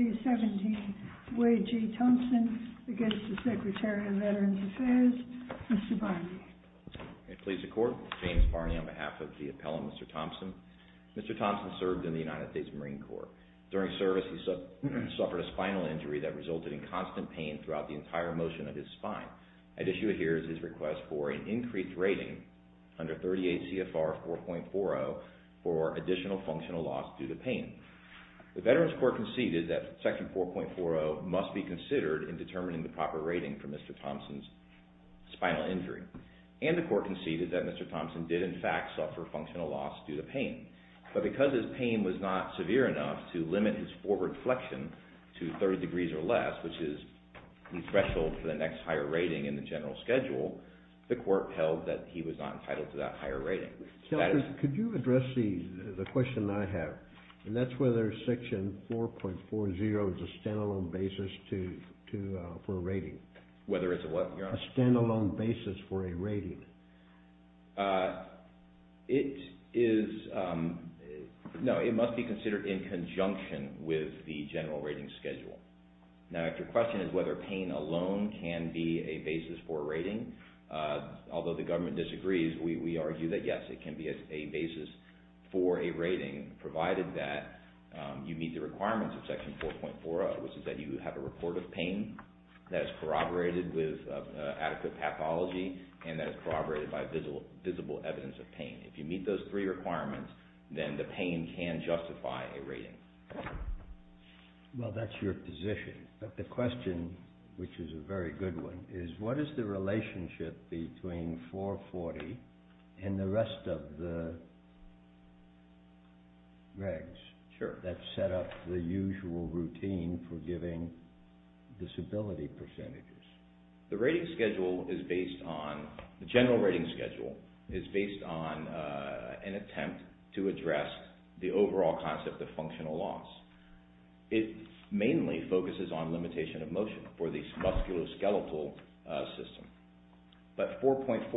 2015-17 Wade G. Thompson v. Secretary of Veterans Affairs James Barney James Barney on behalf of the Appellant Mr. Thompson. Mr. Thompson served in the United States Marine Corps. During service he suffered a spinal injury that resulted in constant pain throughout the entire motion of his spine. At issue here is his request for an increased rating under 38 CFR 4.40 for additional functional loss due to pain. The Veterans Corps conceded that Section 4.40 must be considered in determining the proper rating for Mr. Thompson's spinal injury. And the court conceded that Mr. Thompson did in fact suffer functional loss due to pain. But because his pain was not severe enough to limit his forward flexion to 30 degrees or less, which is the threshold for the next higher rating in the general schedule, the court held that he was not entitled to that higher rating. Could you address the question I have? And that's whether Section 4.40 is a standalone basis for a rating. Whether it's a what, Your Honor? A standalone basis for a rating. It is, no, it must be considered in conjunction with the general rating schedule. Now, if your question is whether pain alone can be a basis for a rating, although the government disagrees, we argue that yes, it can be a basis for a rating provided that you meet the requirements of Section 4.40, which is that you have a report of pain that is corroborated with adequate pathology and that is corroborated by visible evidence of pain. If you meet those three requirements, then the pain can justify a rating. Well, that's your position. But the question, which is a very good one, is what is the relationship between 4.40 and the rest of the regs that set up the usual routine for giving disability percentages? The general rating schedule is based on an attempt to address the overall concept of functional loss. It mainly focuses on limitation of motion for the musculoskeletal system. But 4.40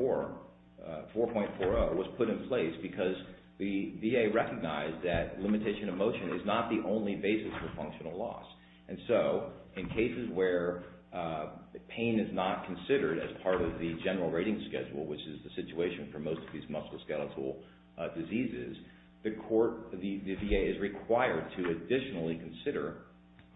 was put in place because the VA recognized that limitation of motion is not the only basis for functional loss. And so, in cases where the pain is not considered as part of the general rating schedule, which is the situation for most of these musculoskeletal diseases, the VA is required to additionally consider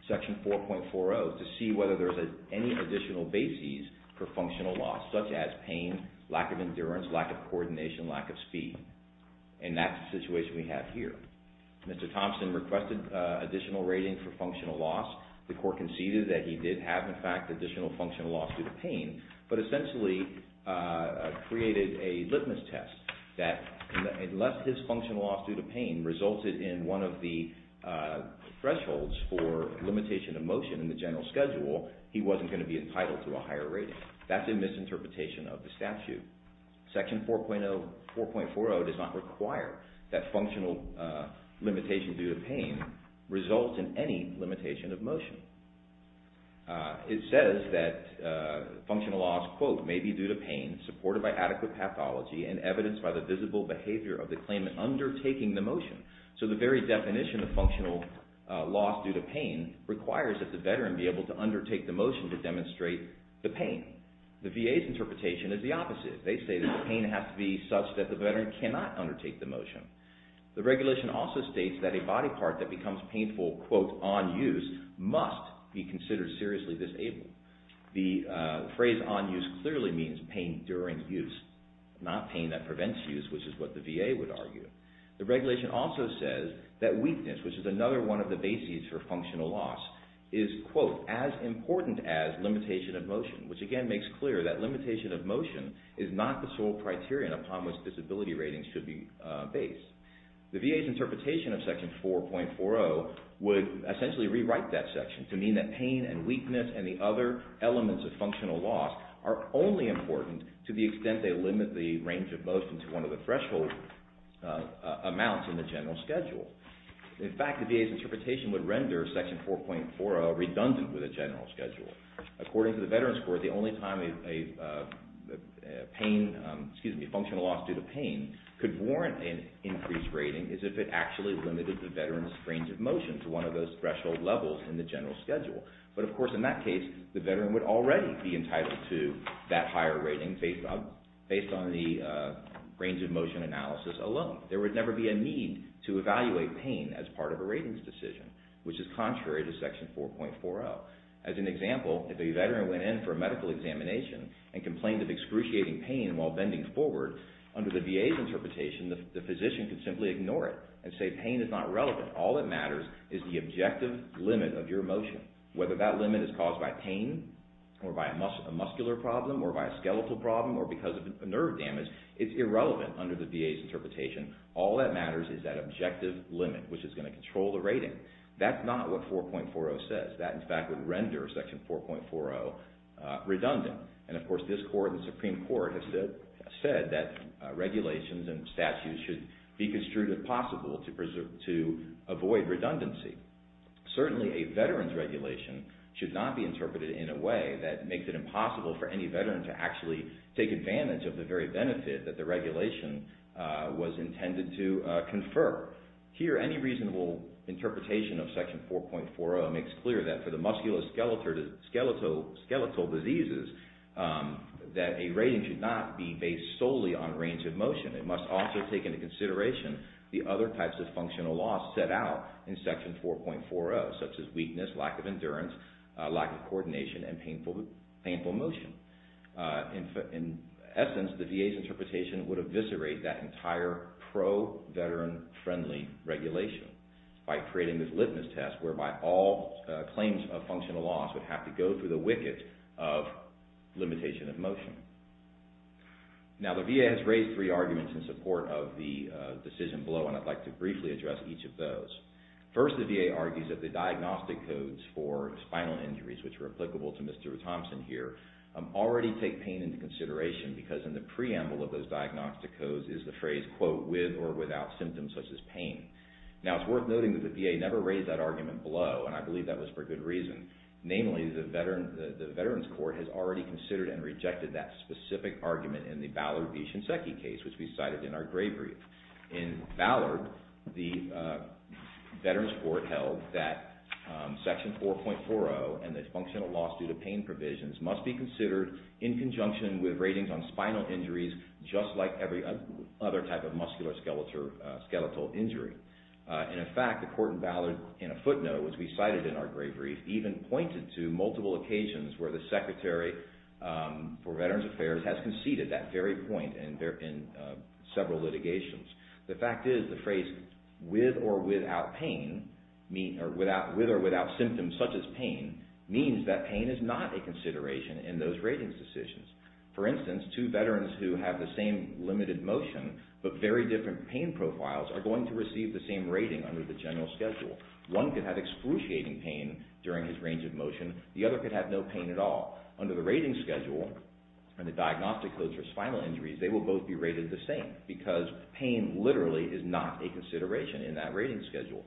Section 4.40 to see whether there is any additional basis for functional loss, such as pain, lack of endurance, lack of coordination, lack of speed. And that's the situation we have here. Mr. Thompson requested additional rating for functional loss. The court conceded that he did have, in fact, additional functional loss due to pain, but essentially created a litmus test that unless his functional loss due to pain resulted in one of the thresholds for limitation of motion in the general schedule, he wasn't going to be entitled to a higher rating. That's a misinterpretation of the statute. Section 4.40 does not require that functional limitation due to pain results in any limitation of motion. It says that functional loss, quote, may be due to pain supported by adequate pathology and evidenced by the visible behavior of the claimant undertaking the motion. So, the very definition of functional loss due to pain requires that the veteran be able to undertake the motion to demonstrate the pain. The VA's interpretation is the opposite. They say that the pain has to be such that the veteran cannot undertake the motion. The regulation also states that a body part that becomes painful, quote, on use must be considered seriously disabled. The phrase on use clearly means pain during use, not pain that prevents use, which is what the VA would argue. The regulation also says that weakness, which is another one of the bases for functional loss, is, quote, as important as limitation of motion, which again makes clear that limitation of motion is not the sole criterion upon which disability ratings should be based. The VA's interpretation of Section 4.40 would essentially rewrite that section to mean that pain and weakness and the other elements of functional loss are only important to the extent they limit the range of motion to one of the threshold amounts in the general schedule. In fact, the VA's interpretation would render Section 4.40 redundant with a general schedule. According to the Veterans Court, the only time a functional loss due to pain could warrant an increased rating is if it actually limited the veteran's range of motion to one of those threshold levels in the general schedule. But, of course, in that case, the veteran would already be entitled to that higher rating based on the range of motion analysis alone. There would never be a need to evaluate pain as part of a ratings decision, which is contrary to Section 4.40. As an example, if a veteran went in for a medical examination and complained of excruciating pain while bending forward, under the VA's interpretation, the physician could simply ignore it and say pain is not relevant. All that matters is the objective limit of your motion. Whether that limit is caused by pain or by a muscular problem or by a skeletal problem or because of nerve damage, it's not relevant under the VA's interpretation. All that matters is that objective limit, which is going to control the rating. That's not what Section 4.40 says. That, in fact, would render Section 4.40 redundant. And, of course, this Court and the Supreme Court have said that regulations and statutes should be construed as possible to avoid redundancy. Certainly, a veteran's regulation should not be interpreted in a way that makes it impossible for any veteran to actually take advantage of the very benefit that the regulation was intended to confer. Here, any reasonable interpretation of Section 4.40 makes clear that for the musculoskeletal diseases that a rating should not be based solely on range of motion. It must also take into consideration the other types of functional loss set out in Section 4.40, such as weakness, lack of endurance, lack of coordination, and painful motion. In essence, the VA's interpretation would eviscerate that entire pro-veteran-friendly regulation by creating this litmus test whereby all claims of functional loss would have to go through the wicket of limitation of motion. Now, the VA has raised three arguments in which the VA argues that the diagnostic codes for spinal injuries, which are applicable to Mr. Thompson here, already take pain into consideration because in the preamble of those diagnostic codes is the phrase, quote, with or without symptoms such as pain. Now, it's worth noting that the VA never raised that argument below, and I believe that was for good reason. Namely, the Veterans Court has already considered and rejected that specific argument in the Ballard v. Shinseki case, which we cited in our grave read. In Ballard, the Veterans Court held that Section 4.40 and the functional loss due to pain provisions must be considered in conjunction with ratings on spinal injuries just like every other type of muscular skeletal injury. And in fact, the court in Ballard, in a footnote, which we cited in our grave read, even pointed to multiple occasions where the Secretary for Veterans Affairs has conceded that very point in several litigations. The fact is, the phrase with or without pain, or with or without symptoms such as pain, means that pain is not a consideration in those ratings decisions. For instance, two veterans who have the same limited motion but very different pain profiles are going to receive the same rating under the general schedule. One could have excruciating pain during his range of motion, the other could have no pain at all. Under the rating schedule, in the diagnostic codes for spinal injuries, pain is not a consideration in that rating schedule.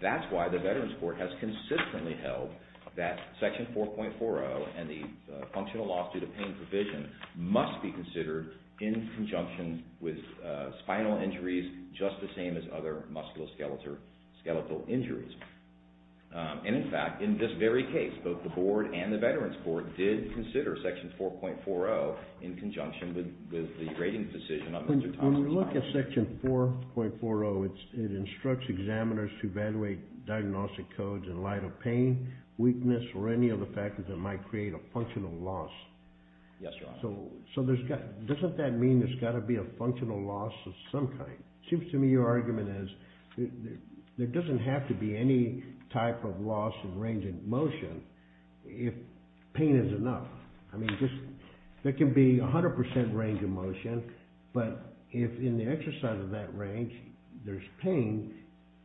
That's why the Veterans Court has consistently held that Section 4.40 and the functional loss due to pain provision must be considered in conjunction with spinal injuries just the same as other musculoskeletal injuries. And in fact, in this very case, both the board and the Veterans Court did consider Section 4.40 in conjunction with the rating decision of Mr. Thompson. When you look at Section 4.40, it instructs examiners to evaluate diagnostic codes in light of pain, weakness, or any other factors that might create a functional loss. Yes, Your Honor. So, doesn't that mean there's got to be a functional loss of some kind? It seems to me your argument is, there doesn't have to be any type of loss in range of motion if pain is enough. I mean, there can be 100% range of motion, but if in the exercise of that range there's pain,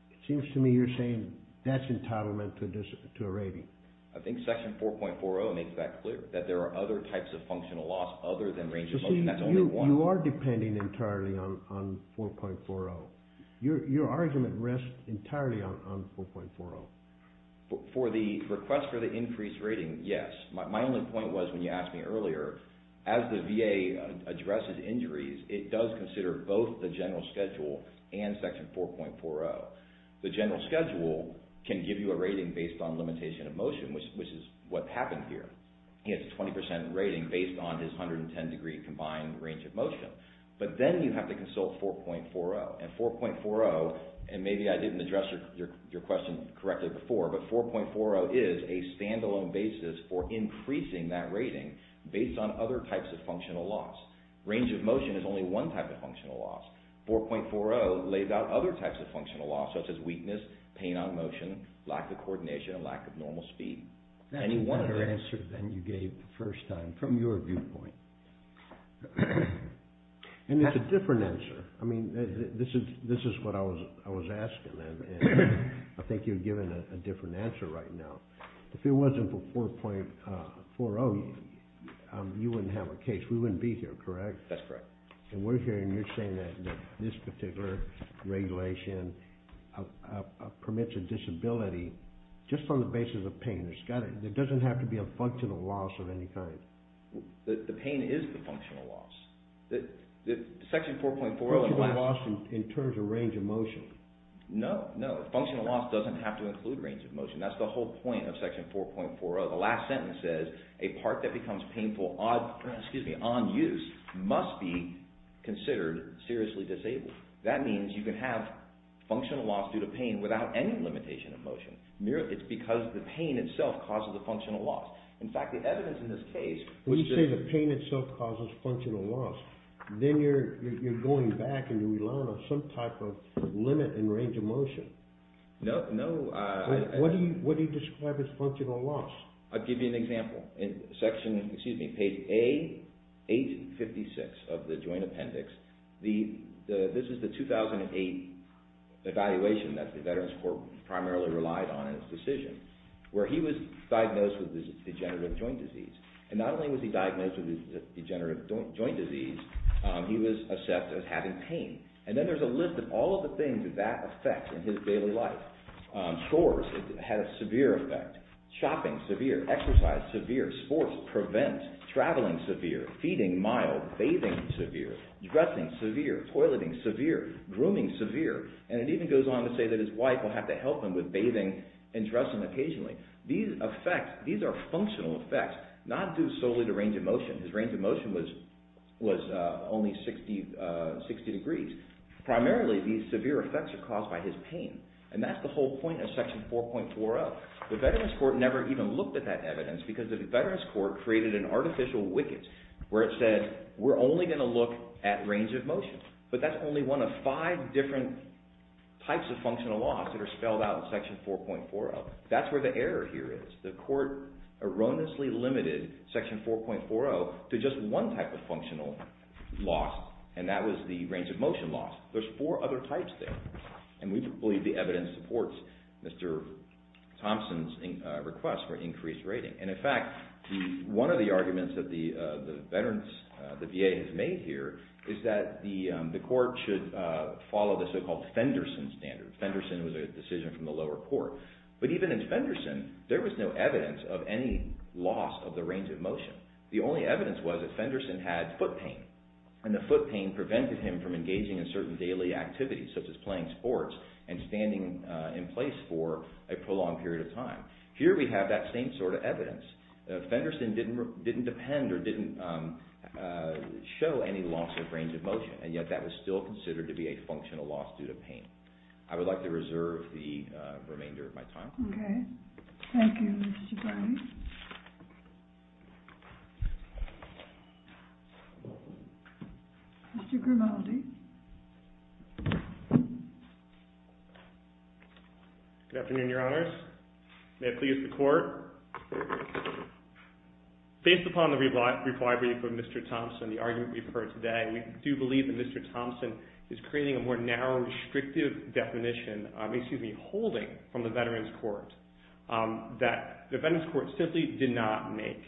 it seems to me you're saying that's entitlement to a rating. I think Section 4.40 makes that clear, that there are other types of functional loss other than range of motion. That's only one. You are depending entirely on 4.40. Your argument rests entirely on 4.40. For the request for the increased rating, yes. My only point was, when you asked me earlier, as the VA addresses injuries, it does consider both the general schedule and Section 4.40. The general schedule can give you a rating based on limitation of motion, which is what happened here. He has a 20% rating based on his 110 degree combined range of motion, but then you have to consult 4.40. And 4.40, and maybe I didn't address your question correctly before, but 4.40 is a stand-alone basis for increasing that rating based on other types of functional loss. Range of motion is only one type of functional loss. 4.40 lays out other types of functional loss, such as weakness, pain on motion, lack of coordination, and lack of normal speed. Any other answer than you gave the first time, from your viewpoint? And it's a different answer. I mean, this is what I was asking, and I think you're given a different answer right now. If it wasn't for 4.40, you wouldn't have a case. We wouldn't be here, correct? That's correct. And we're here, and you're saying that this particular regulation permits a disability just on the basis of pain. There doesn't have to be a functional loss of any kind. The pain is the functional loss. Section 4.40... Functional loss in terms of range of motion. No, no. Functional loss doesn't have to include range of motion. That's the whole point of Section 4.40. The last sentence says, a part that becomes painful on use must be considered seriously disabled. That means you can have functional loss due to pain without any limitation of motion. It's because the pain itself causes the functional loss. In fact, the evidence in this case... When you say the pain itself causes functional loss, then you're going back and you're relying on some type of limit in range of motion. No, no. What do you describe as functional loss? I'll give you an example. In Section, excuse me, page A, page 56 of the Joint Appendix, this is the 2008 evaluation that the Veterans Court primarily relied on in its decision, where he was diagnosed with degenerative joint disease. And not only was he diagnosed with degenerative joint disease, he was assessed as having pain. And then there's a list of all of the things that that affects in his daily life. Chores, it had a severe effect. Shopping, severe. Exercise, severe. Sports, prevent. Traveling, severe. Feeding, mild. Bathing, severe. Dressing, severe. Toileting, severe. Grooming, severe. And it even goes on to say that his wife will have to help him with bathing and dressing occasionally. These are functional effects, not due solely to range of motion. His range of motion was only 60 degrees. Primarily, these severe effects are caused by his pain. And that's the whole point of Section 4.40. The Veterans Court never even looked at that evidence because the Veterans Court created an artificial wicket where it said, we're only going to look at range of motion. But that's only one of five different types of functional loss that are spelled out in Section 4.40. That's where the error here is. The court erroneously limited Section 4.40 to just one type of functional loss. And that was the range of motion loss. There's four other types there. And we believe the evidence supports Mr. Thompson's request for increased rating. And in fact, one of the arguments that the VA has made here is that the court should follow the so-called Fenderson standard. Fenderson was a decision from the lower court. But even in Fenderson, there was no evidence of any loss of the range of motion. The only evidence was that Fenderson had foot pain. And the foot pain prevented him from engaging in certain daily activities such as playing sports and standing in place for a prolonged period of time. Here we have that same sort of evidence. Fenderson didn't depend or didn't show any loss of range of motion. And yet that was still considered to be a functional loss due to pain. I would like to reserve the remainder of my time. Okay. Thank you, Mr. Browning. Mr. Grimaldi. Good afternoon, Your Honors. May it please the Court. Based upon the reply brief of Mr. Thompson, the argument we've heard today, we do believe that Mr. Thompson is creating a more narrow, restrictive definition, excuse me, holding from the Veterans Court that the Veterans Court simply did not make.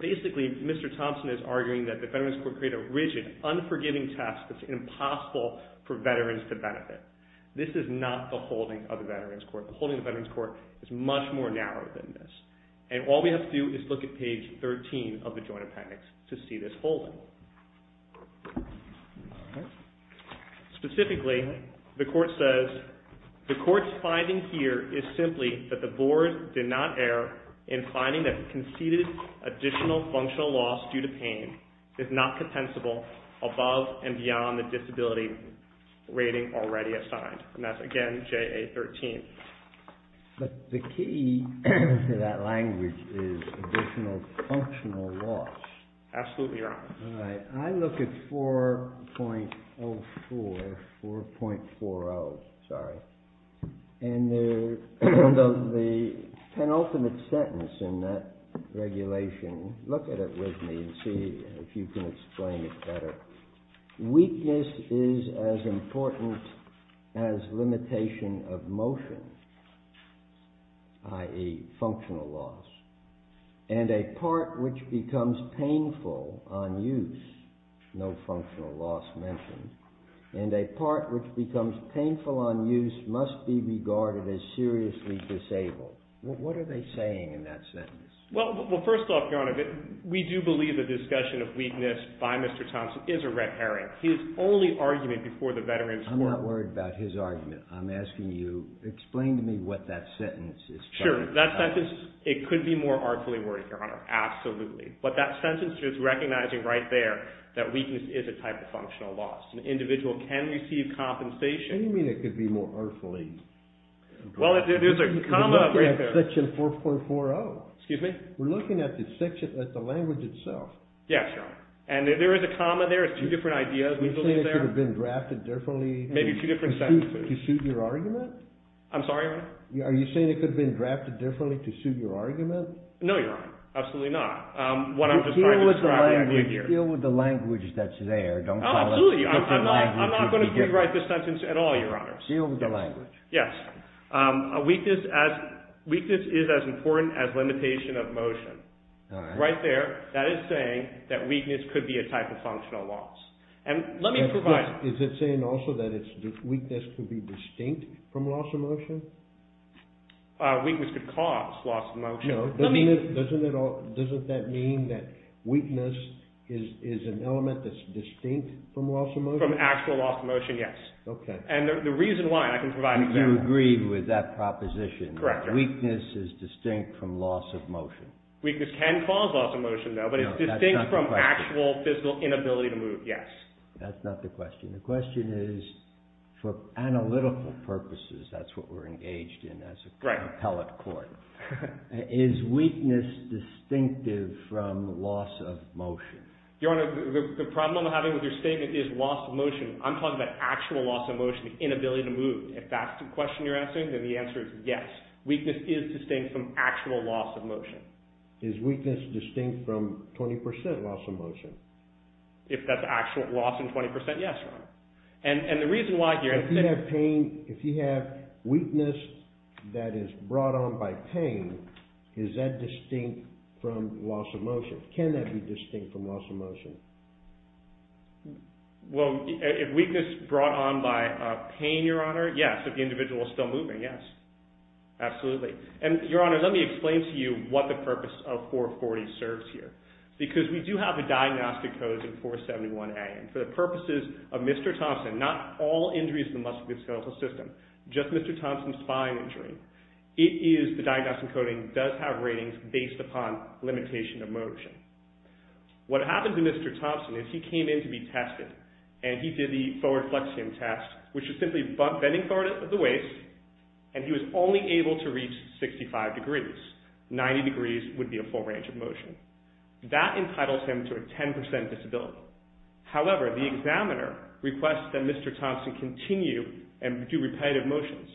Basically, Mr. Thompson is arguing that the Veterans Court created a rigid, unforgiving test that's impossible for veterans to benefit. This is not the holding of the Veterans Court. The holding of the Veterans Court is much more narrow than this. And all we have to do is look at page 13 of the Joint Appendix to see this holding. Specifically, the Court says, the Court's finding here is simply that the Board did not err in finding that an additional functional loss due to pain is not compensable above and beyond the disability rating already assigned. And that's, again, JA 13. But the key to that language is additional functional loss. Absolutely, Your Honors. All right. I look at 4.04, 4.40, sorry. And the penultimate sentence in that regulation, look at it with me and see if you can explain it better. Weakness is as important as limitation of motion, i.e., functional loss. And a part which becomes painful on use, no functional loss mentioned, and a part which becomes painful on use must be regarded as seriously disabled. What are they saying in that sentence? Well, first off, Your Honor, we do believe the discussion of weakness by Mr. Thompson is a red herring. His only argument before the Veterans Court I'm not worried about his argument. I'm asking you, explain to me what that sentence is talking about. Sure. That sentence, it could be more artfully worded, Your Honor, absolutely. But that sentence is recognizing right there that weakness is a type of functional loss. An individual can receive compensation. What do you mean it could be more artfully? Well, there's a comma right there. We're looking at section 4.40. Excuse me? We're looking at the language itself. Yes, Your Honor. And there is a comma there, it's two different ideas we believe there. Are you saying it could have been drafted differently? Maybe two different sentences. To suit your argument? I'm sorry, Your Honor? Are you saying it could have been drafted differently to suit your argument? No, Your Honor, absolutely not. What I'm just trying to describe here. Deal with the language that's there. Oh, absolutely. I'm not going to rewrite this sentence at all, Your Honor. Deal with the language. Yes. A weakness is as important as limitation of motion. All right. Right there, that is saying that weakness could be a type of functional loss. And let me provide. Is it saying also that weakness could be distinct from loss of motion? Weakness could cause loss of motion. Doesn't that mean that weakness is an element that's distinct from loss of motion? From actual loss of motion, yes. Okay. And the reason why, I can provide an example. You agree with that proposition. Correct. That weakness is distinct from loss of motion. Weakness can cause loss of motion, though, but it's distinct from actual physical inability to move, yes. That's not the question. The question is, for analytical purposes, that's what we're engaged in as an appellate court. Is weakness distinctive from loss of motion? Your Honor, the problem I'm having with your statement is loss of motion. I'm talking about actual loss of motion, inability to move. If that's the question you're asking, then the answer is yes. Weakness is distinct from actual loss of motion. Is weakness distinct from 20% loss of motion? If that's actual loss in 20%, yes, Your Honor. If you have weakness that is brought on by pain, is that distinct from loss of motion? Can that be distinct from loss of motion? Well, if weakness brought on by pain, Your Honor, yes. If the individual is still moving, yes. Absolutely. And, Your Honor, let me explain to you what the purpose of 440 serves here. Because we do have a diagnostic code in 471A, and for the purposes of Mr. Thompson, not all injuries in the musculoskeletal system, just Mr. Thompson's spine injury, the diagnostic coding does have ratings based upon limitation of motion. What happened to Mr. Thompson is he came in to be tested, and he did the forward flexion test, which is simply bending forward at the waist, and he was only able to reach 65 degrees. 90 degrees would be a full range of motion. That entitles him to a 10% disability. However, the examiner requests that Mr. Thompson continue and do repetitive motions.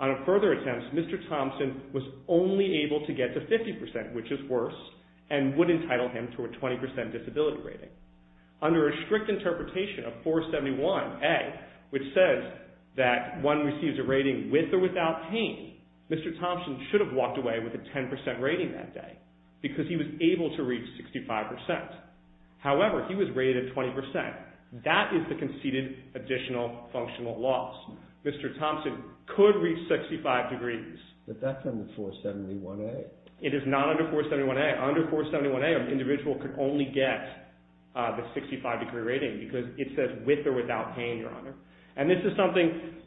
On a further attempt, Mr. Thompson was only able to get to 50%, which is worse, and would entitle him to a 20% disability rating. Under a strict interpretation of 471A, which says that one receives a rating with or without pain, Mr. Thompson should have walked away with a 10% rating that day because he was able to reach 65%. However, he was rated at 20%. That is the conceded additional functional loss. Mr. Thompson could reach 65 degrees. But that's under 471A. It is not under 471A. Under 471A, an individual could only get the 65 degree rating because it says with or without pain, Your Honor. And this is something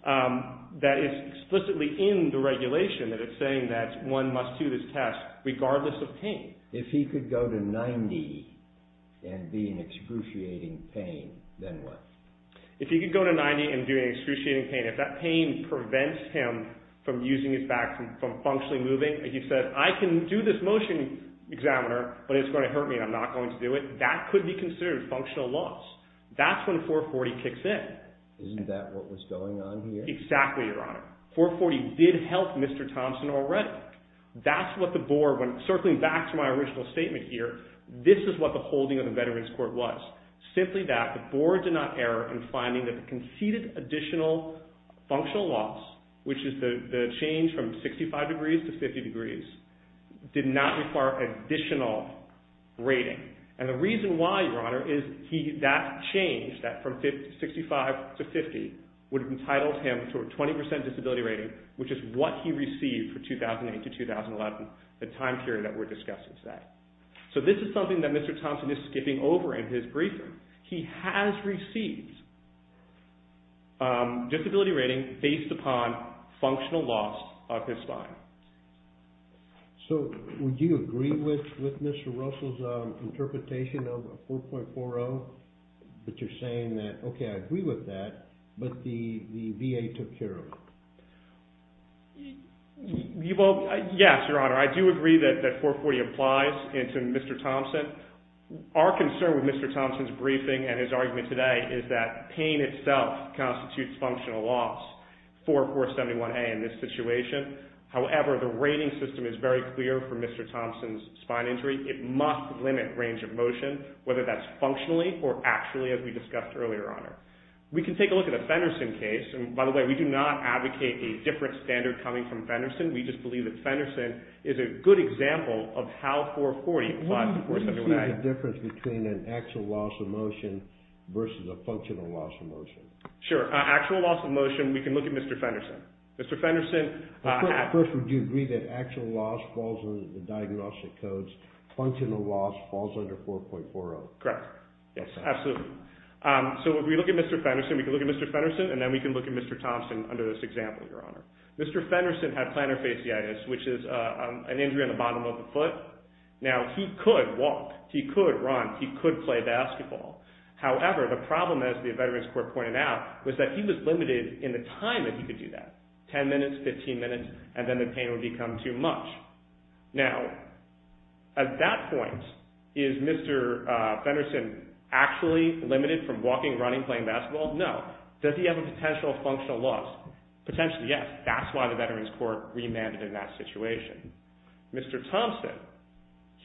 that is explicitly in the regulation, that it's saying that one must do this test regardless of pain. If he could go to 90 and be in excruciating pain, then what? If he could go to 90 and be in excruciating pain, if that pain prevents him from using his back, from functionally moving, he says, I can do this motion, examiner, but it's going to hurt me and I'm not going to do it. That could be considered functional loss. That's when 440 kicks in. Isn't that what was going on here? Exactly, Your Honor. 440 did help Mr. Thompson already. That's what the board, when circling back to my original statement here, this is what the holding of the Veterans Court was. Simply that the board did not err in finding that the conceded additional functional loss, which is the change from 65 degrees to 50 degrees, did not require additional rating. And the reason why, Your Honor, is that change, that from 65 to 50, would have entitled him to a 20% disability rating, which is what he received for 2008 to 2011, the time period that we're discussing today. So this is something that Mr. Thompson is skipping over in his briefing. He has received disability rating based upon functional loss of his spine. So would you agree with Mr. Russell's interpretation of 4.40? That you're saying that, okay, I agree with that, but the VA took care of it. Yes, Your Honor. I do agree that 440 applies to Mr. Thompson. Our concern with Mr. Thompson's briefing and his argument today is that pain itself constitutes functional loss for 471A in this situation. However, the rating system is very clear for Mr. Thompson's spine injury. It must limit range of motion, whether that's functionally or actually, as we discussed earlier, Your Honor. We can take a look at a Fenderson case. And by the way, we do not advocate a different standard coming from Fenderson. We just believe that Fenderson is a good example of how 440 applies to 471A. Why don't you see the difference between an actual loss of motion versus a functional loss of motion? Sure. Actual loss of motion, we can look at Mr. Fenderson. Mr. Fenderson. First, would you agree that actual loss falls under the diagnostic codes, functional loss falls under 4.40? Correct. Yes, absolutely. So if we look at Mr. Fenderson, we can look at Mr. Fenderson, and then we can look at Mr. Thompson under this example, Your Honor. Mr. Fenderson had plantar fasciitis, which is an injury on the bottom of the foot. Now, he could walk. He could run. He could play basketball. However, the problem, as the Veterans Court pointed out, was that he was limited in the time that he could do that, 10 minutes, 15 minutes, and then the pain would become too much. Now, at that point, is Mr. Fenderson actually limited from walking, running, playing basketball? No. Does he have a potential functional loss? Potentially, yes. That's why the Veterans Court remanded in that situation. Mr. Thompson,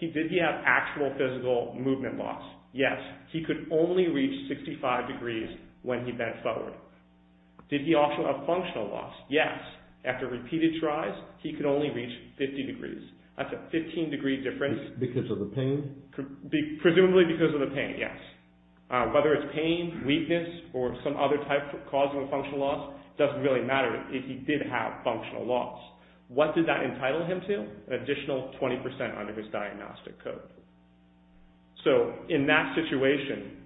did he have actual physical movement loss? Yes. He could only reach 65 degrees when he bent forward. Did he also have functional loss? Yes. After repeated tries, he could only reach 50 degrees. That's a 15-degree difference. Because of the pain? Presumably because of the pain, yes. Whether it's pain, weakness, or some other type of causal or functional loss, it doesn't really matter if he did have functional loss. What did that entitle him to? An additional 20% under his diagnostic code. So, in that situation,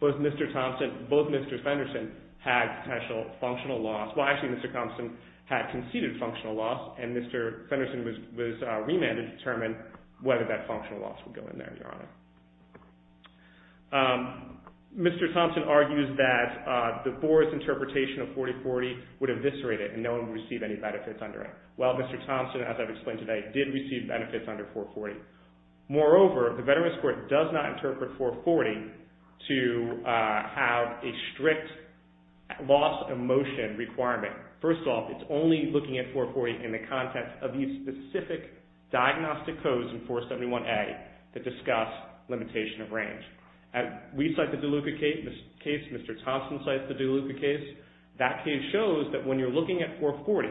both Mr. Thompson and both Mr. Fenderson had potential functional loss. Well, actually, Mr. Thompson had conceded functional loss, and Mr. Fenderson was remanded to determine whether that functional loss would go in there, Your Honor. Mr. Thompson argues that the Boris interpretation of 40-40 would eviscerate it, and no one would receive any benefits under it. Well, Mr. Thompson, as I've explained today, did receive benefits under 440. Moreover, the Veterans Court does not interpret 440 to have a strict loss of motion requirement. First off, it's only looking at 440 in the context of these specific diagnostic codes in 471A that discuss limitation of range. We cite the DeLuca case. Mr. Thompson cites the DeLuca case. That case shows that when you're looking at 440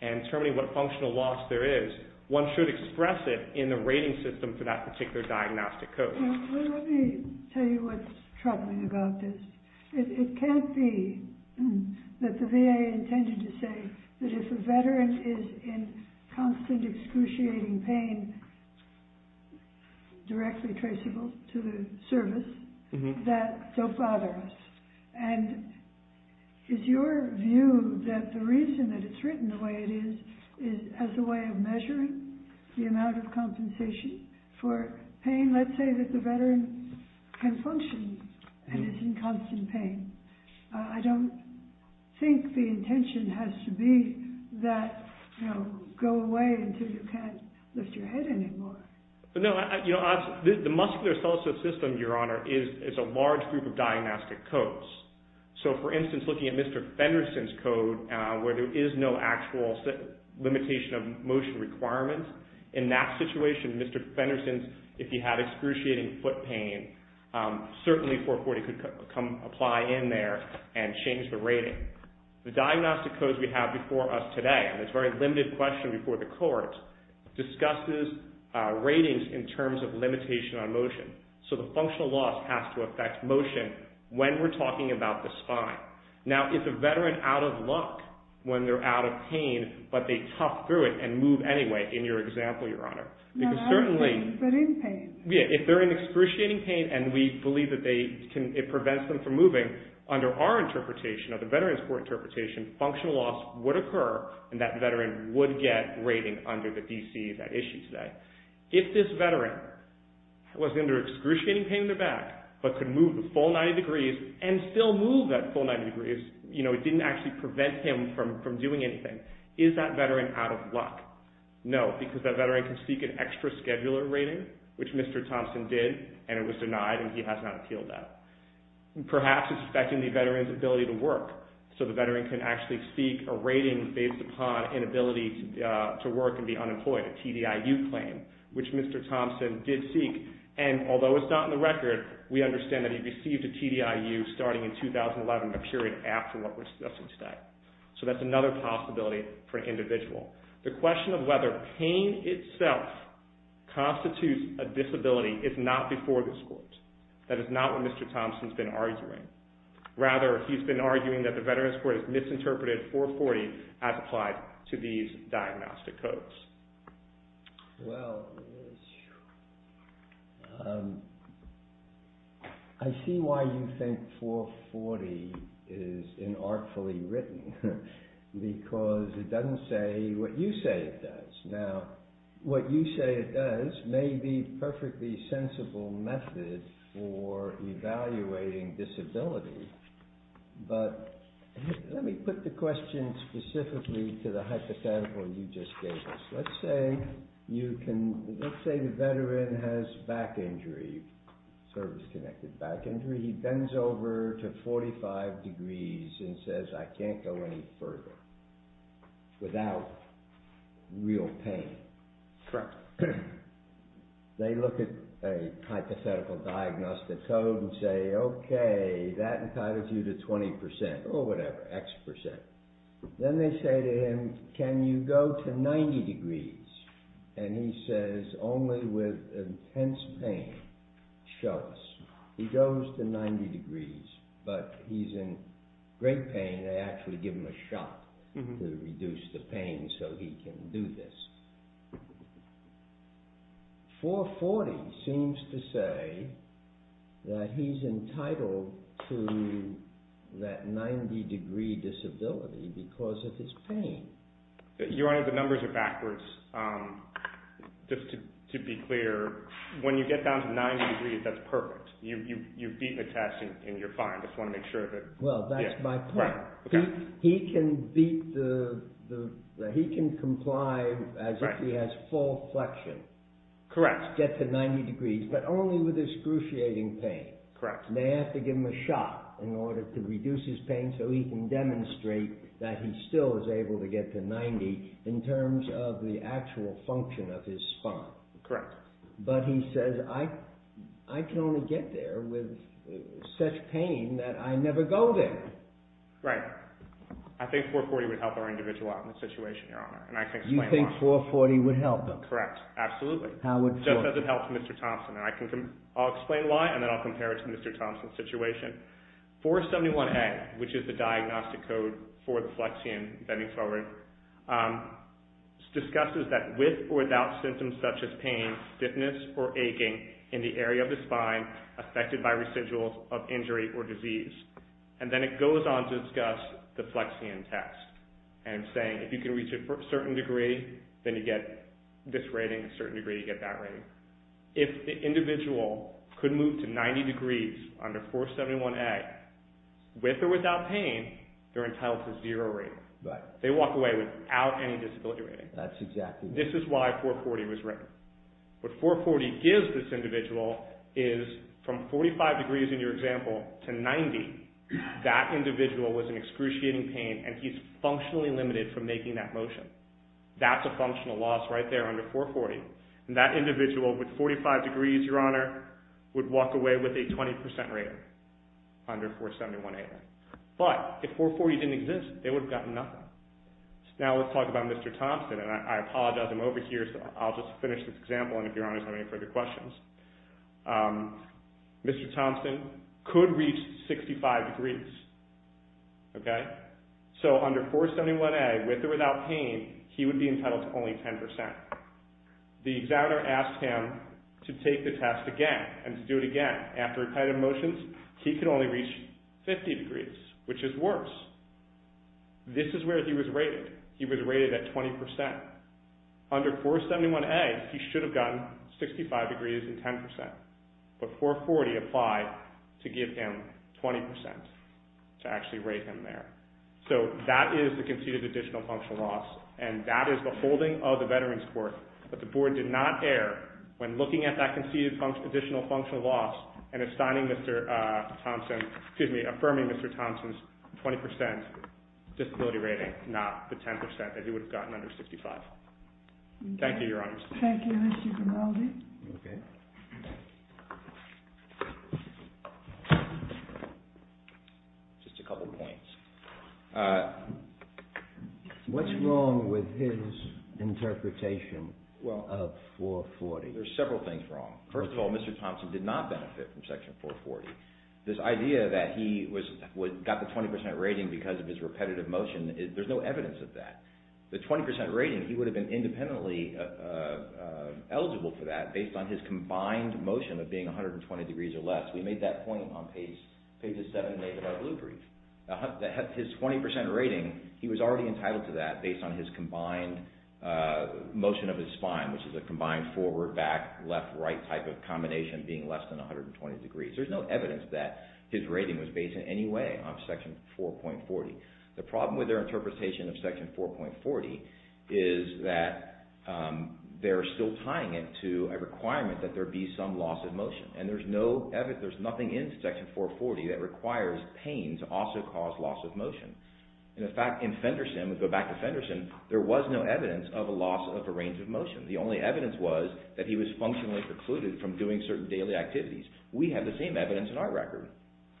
and determining what functional loss there is, one should express it in the rating system for that particular diagnostic code. Well, let me tell you what's troubling about this. It can't be that the VA intended to say that if a Veteran is in constant excruciating pain, directly traceable to the service, that don't bother us. And is your view that the reason that it's written the way it is, is as a way of measuring the amount of compensation for pain? Let's say that the Veteran can function and is in constant pain. I don't think the intention has to be that, you know, go away until you can't lift your head anymore. No, you know, the musculoskeletal system, Your Honor, is a large group of diagnostic codes. So, for instance, looking at Mr. Fenderson's code, where there is no actual limitation of motion requirements, in that situation, Mr. Fenderson's, if he had excruciating foot pain, certainly 440 could apply in there and change the rating. The diagnostic codes we have before us today, and it's a very limited question before the court, discusses ratings in terms of limitation on motion. So, the functional loss has to affect motion when we're talking about the spine. Now, is a Veteran out of luck when they're out of pain, but they tough through it and move anyway, in your example, Your Honor? No, out of pain, but in pain. If they're in excruciating pain and we believe that it prevents them from moving, under our interpretation, or the Veteran's court interpretation, functional loss would occur and that Veteran would get rating under the DC, that issue today. If this Veteran was under excruciating pain in their back, but could move the full 90 degrees and still move that full 90 degrees, you know, it didn't actually prevent him from doing anything. Is that Veteran out of luck? No, because that Veteran can seek an extra scheduler rating, which Mr. Thompson did, and it was denied and he has not appealed that. Perhaps it's affecting the Veteran's ability to work. So, the Veteran can actually seek a rating based upon inability to work and be unemployed, a TDIU claim, which Mr. Thompson did seek. And although it's not in the record, we understand that he received a TDIU starting in 2011, a period after what we're discussing today. The question of whether pain itself constitutes a disability is not before this court. That is not what Mr. Thompson's been arguing. Rather, he's been arguing that the Veteran's court has misinterpreted 440 as applied to these diagnostic codes. Well, I see why you think 440 is inartfully written, because it doesn't say what you say it does. Now, what you say it does may be a perfectly sensible method for evaluating disability, but let me put the question specifically to the hypothetical you just gave us. Let's say the Veteran has back injury, service-connected back injury. He bends over to 45 degrees and says, I can't go any further without real pain. They look at a hypothetical diagnostic code and say, okay, that entitles you to 20%, or whatever, X percent. Then they say to him, can you go to 90 degrees? And he says, only with intense pain. Show us. He goes to 90 degrees, but he's in great pain. They actually give him a shot to reduce the pain so he can do this. 440 seems to say that he's entitled to that 90-degree disability because of his pain. Your Honor, the numbers are backwards. Just to be clear, when you get down to 90 degrees, that's perfect. You've beaten the test, and you're fine. I just want to make sure. Well, that's my point. He can comply as if he has full flexion. Correct. Get to 90 degrees, but only with excruciating pain. Correct. They have to give him a shot in order to reduce his pain so he can demonstrate that he still is able to get to 90 in terms of the actual function of his spine. Correct. But he says, I can only get there with such pain that I never go there. Right. I think 440 would help our individual out in this situation, Your Honor. You think 440 would help him? Correct. Absolutely. Just as it helps Mr. Thompson. I'll explain why, and then I'll compare it to Mr. Thompson's situation. 471A, which is the diagnostic code for the flexion, bending forward, discusses that with or without symptoms such as pain, stiffness, or aching in the area of the spine affected by residuals of injury or disease. And then it goes on to discuss the flexion test. And saying if you can reach a certain degree, then you get this rating, a certain degree, you get that rating. If the individual could move to 90 degrees under 471A, with or without pain, they're entitled to zero rating. Right. They walk away without any disability rating. That's exactly right. This is why 440 was written. What 440 gives this individual is from 45 degrees in your example to 90, that individual was in excruciating pain, and he's functionally limited from making that motion. That's a functional loss right there under 440. And that individual with 45 degrees, Your Honor, would walk away with a 20% rating under 471A. But if 440 didn't exist, they would have gotten nothing. Now let's talk about Mr. Thompson. And I apologize, I'm over here, so I'll just finish this example, and if Your Honor has any further questions. Mr. Thompson could reach 65 degrees. Okay. So under 471A, with or without pain, he would be entitled to only 10%. The examiner asked him to take the test again and to do it again. After repetitive motions, he could only reach 50 degrees, which is worse. This is where he was rated. He was rated at 20%. Under 471A, he should have gotten 65 degrees and 10%. But 440 applied to give him 20% to actually rate him there. So that is the conceded additional functional loss, and that is the holding of the Veterans Court. But the Board did not err when looking at that conceded additional functional loss and affirming Mr. Thompson's 20% disability rating, not the 10% that he would have gotten under 65. Thank you, Your Honor. Thank you, Mr. Grimaldi. Okay. Just a couple points. What's wrong with his interpretation of 440? There's several things wrong. First of all, Mr. Thompson did not benefit from Section 440. This idea that he got the 20% rating because of his repetitive motion, there's no evidence of that. The 20% rating, he would have been independently eligible for that based on his combined motion of being 120 degrees or less. We made that point on page 7 of our blue brief. His 20% rating, he was already entitled to that based on his combined motion of his spine, which is a combined forward, back, left, right type of combination being less than 120 degrees. There's no evidence that his rating was based in any way on Section 4.40. The problem with their interpretation of Section 4.40 is that they're still tying it to a requirement that there be some loss of motion, and there's nothing in Section 440 that requires pain to also cause loss of motion. In fact, in Fenderson, we go back to Fenderson, there was no evidence of a loss of a range of motion. The only evidence was that he was functionally precluded from doing certain daily activities. We have the same evidence in our record.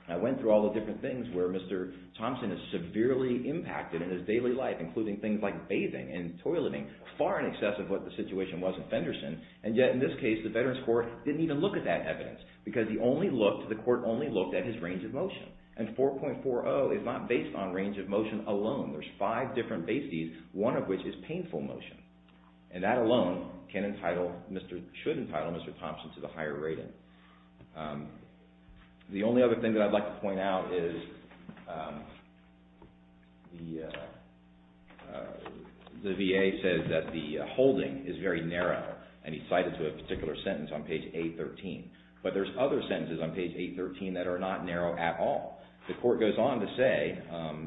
I went through all the different things where Mr. Thompson is severely impacted in his daily life, including things like bathing and toileting, far in excess of what the situation was in Fenderson. And yet in this case, the Veterans Court didn't even look at that evidence because the court only looked at his range of motion. And 4.40 is not based on range of motion alone. There's five different bases, one of which is painful motion. And that alone can entitle, should entitle Mr. Thompson to the higher rating. The only other thing that I'd like to point out is the VA says that the holding is very narrow, and he cited to a particular sentence on page 813. But there's other sentences on page 813 that are not narrow at all. The court goes on to say,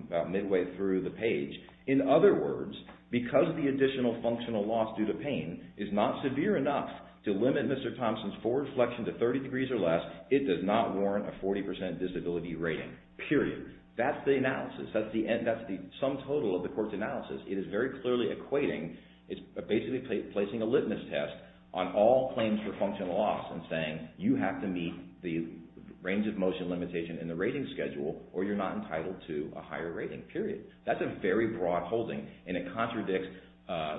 about midway through the page, in other words, because the additional functional loss due to pain is not severe enough to limit Mr. Thompson's forward flexion to 30 degrees or less, it does not warrant a 40 percent disability rating, period. That's the analysis. That's the sum total of the court's analysis. It is very clearly equating, it's basically placing a litmus test on all claims for functional loss and saying, you have to meet the range of motion limitation in the rating schedule or you're not entitled to a higher rating, period. That's a very broad holding, and it contradicts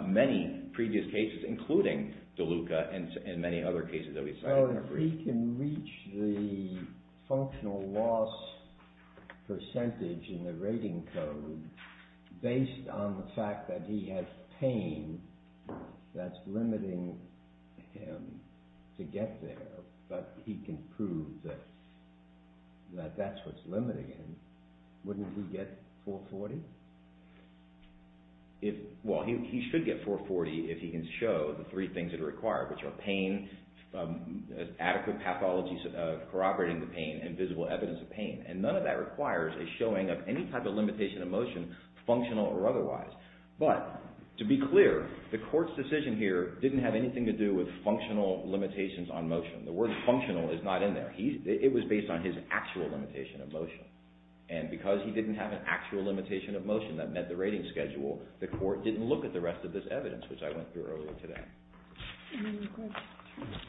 many previous cases, including DeLuca and many other cases that we cited. Well, if he can reach the functional loss percentage in the rating code based on the fact that he has pain that's limiting him to get there, but he can prove that that's what's limiting him, wouldn't he get 440? Well, he should get 440 if he can show the three things that are required, which are pain, adequate pathologies corroborating the pain, and visible evidence of pain. And none of that requires a showing of any type of limitation of motion, functional or otherwise. But to be clear, the court's decision here didn't have anything to do with functional limitations on motion. The word functional is not in there. It was based on his actual limitation of motion. And because he didn't have an actual limitation of motion that met the rating schedule, the court didn't look at the rest of this evidence, which I went through earlier today. Any other questions?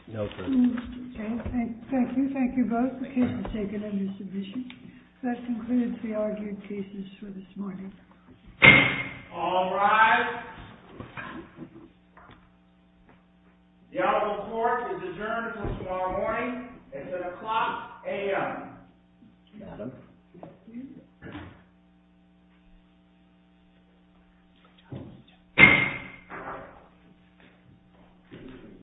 No, sir. Okay. Thank you. Thank you both. The case is taken under submission. That concludes the argued cases for this morning. All rise. The honorable court is adjourned until tomorrow morning. It's at o'clock a.m.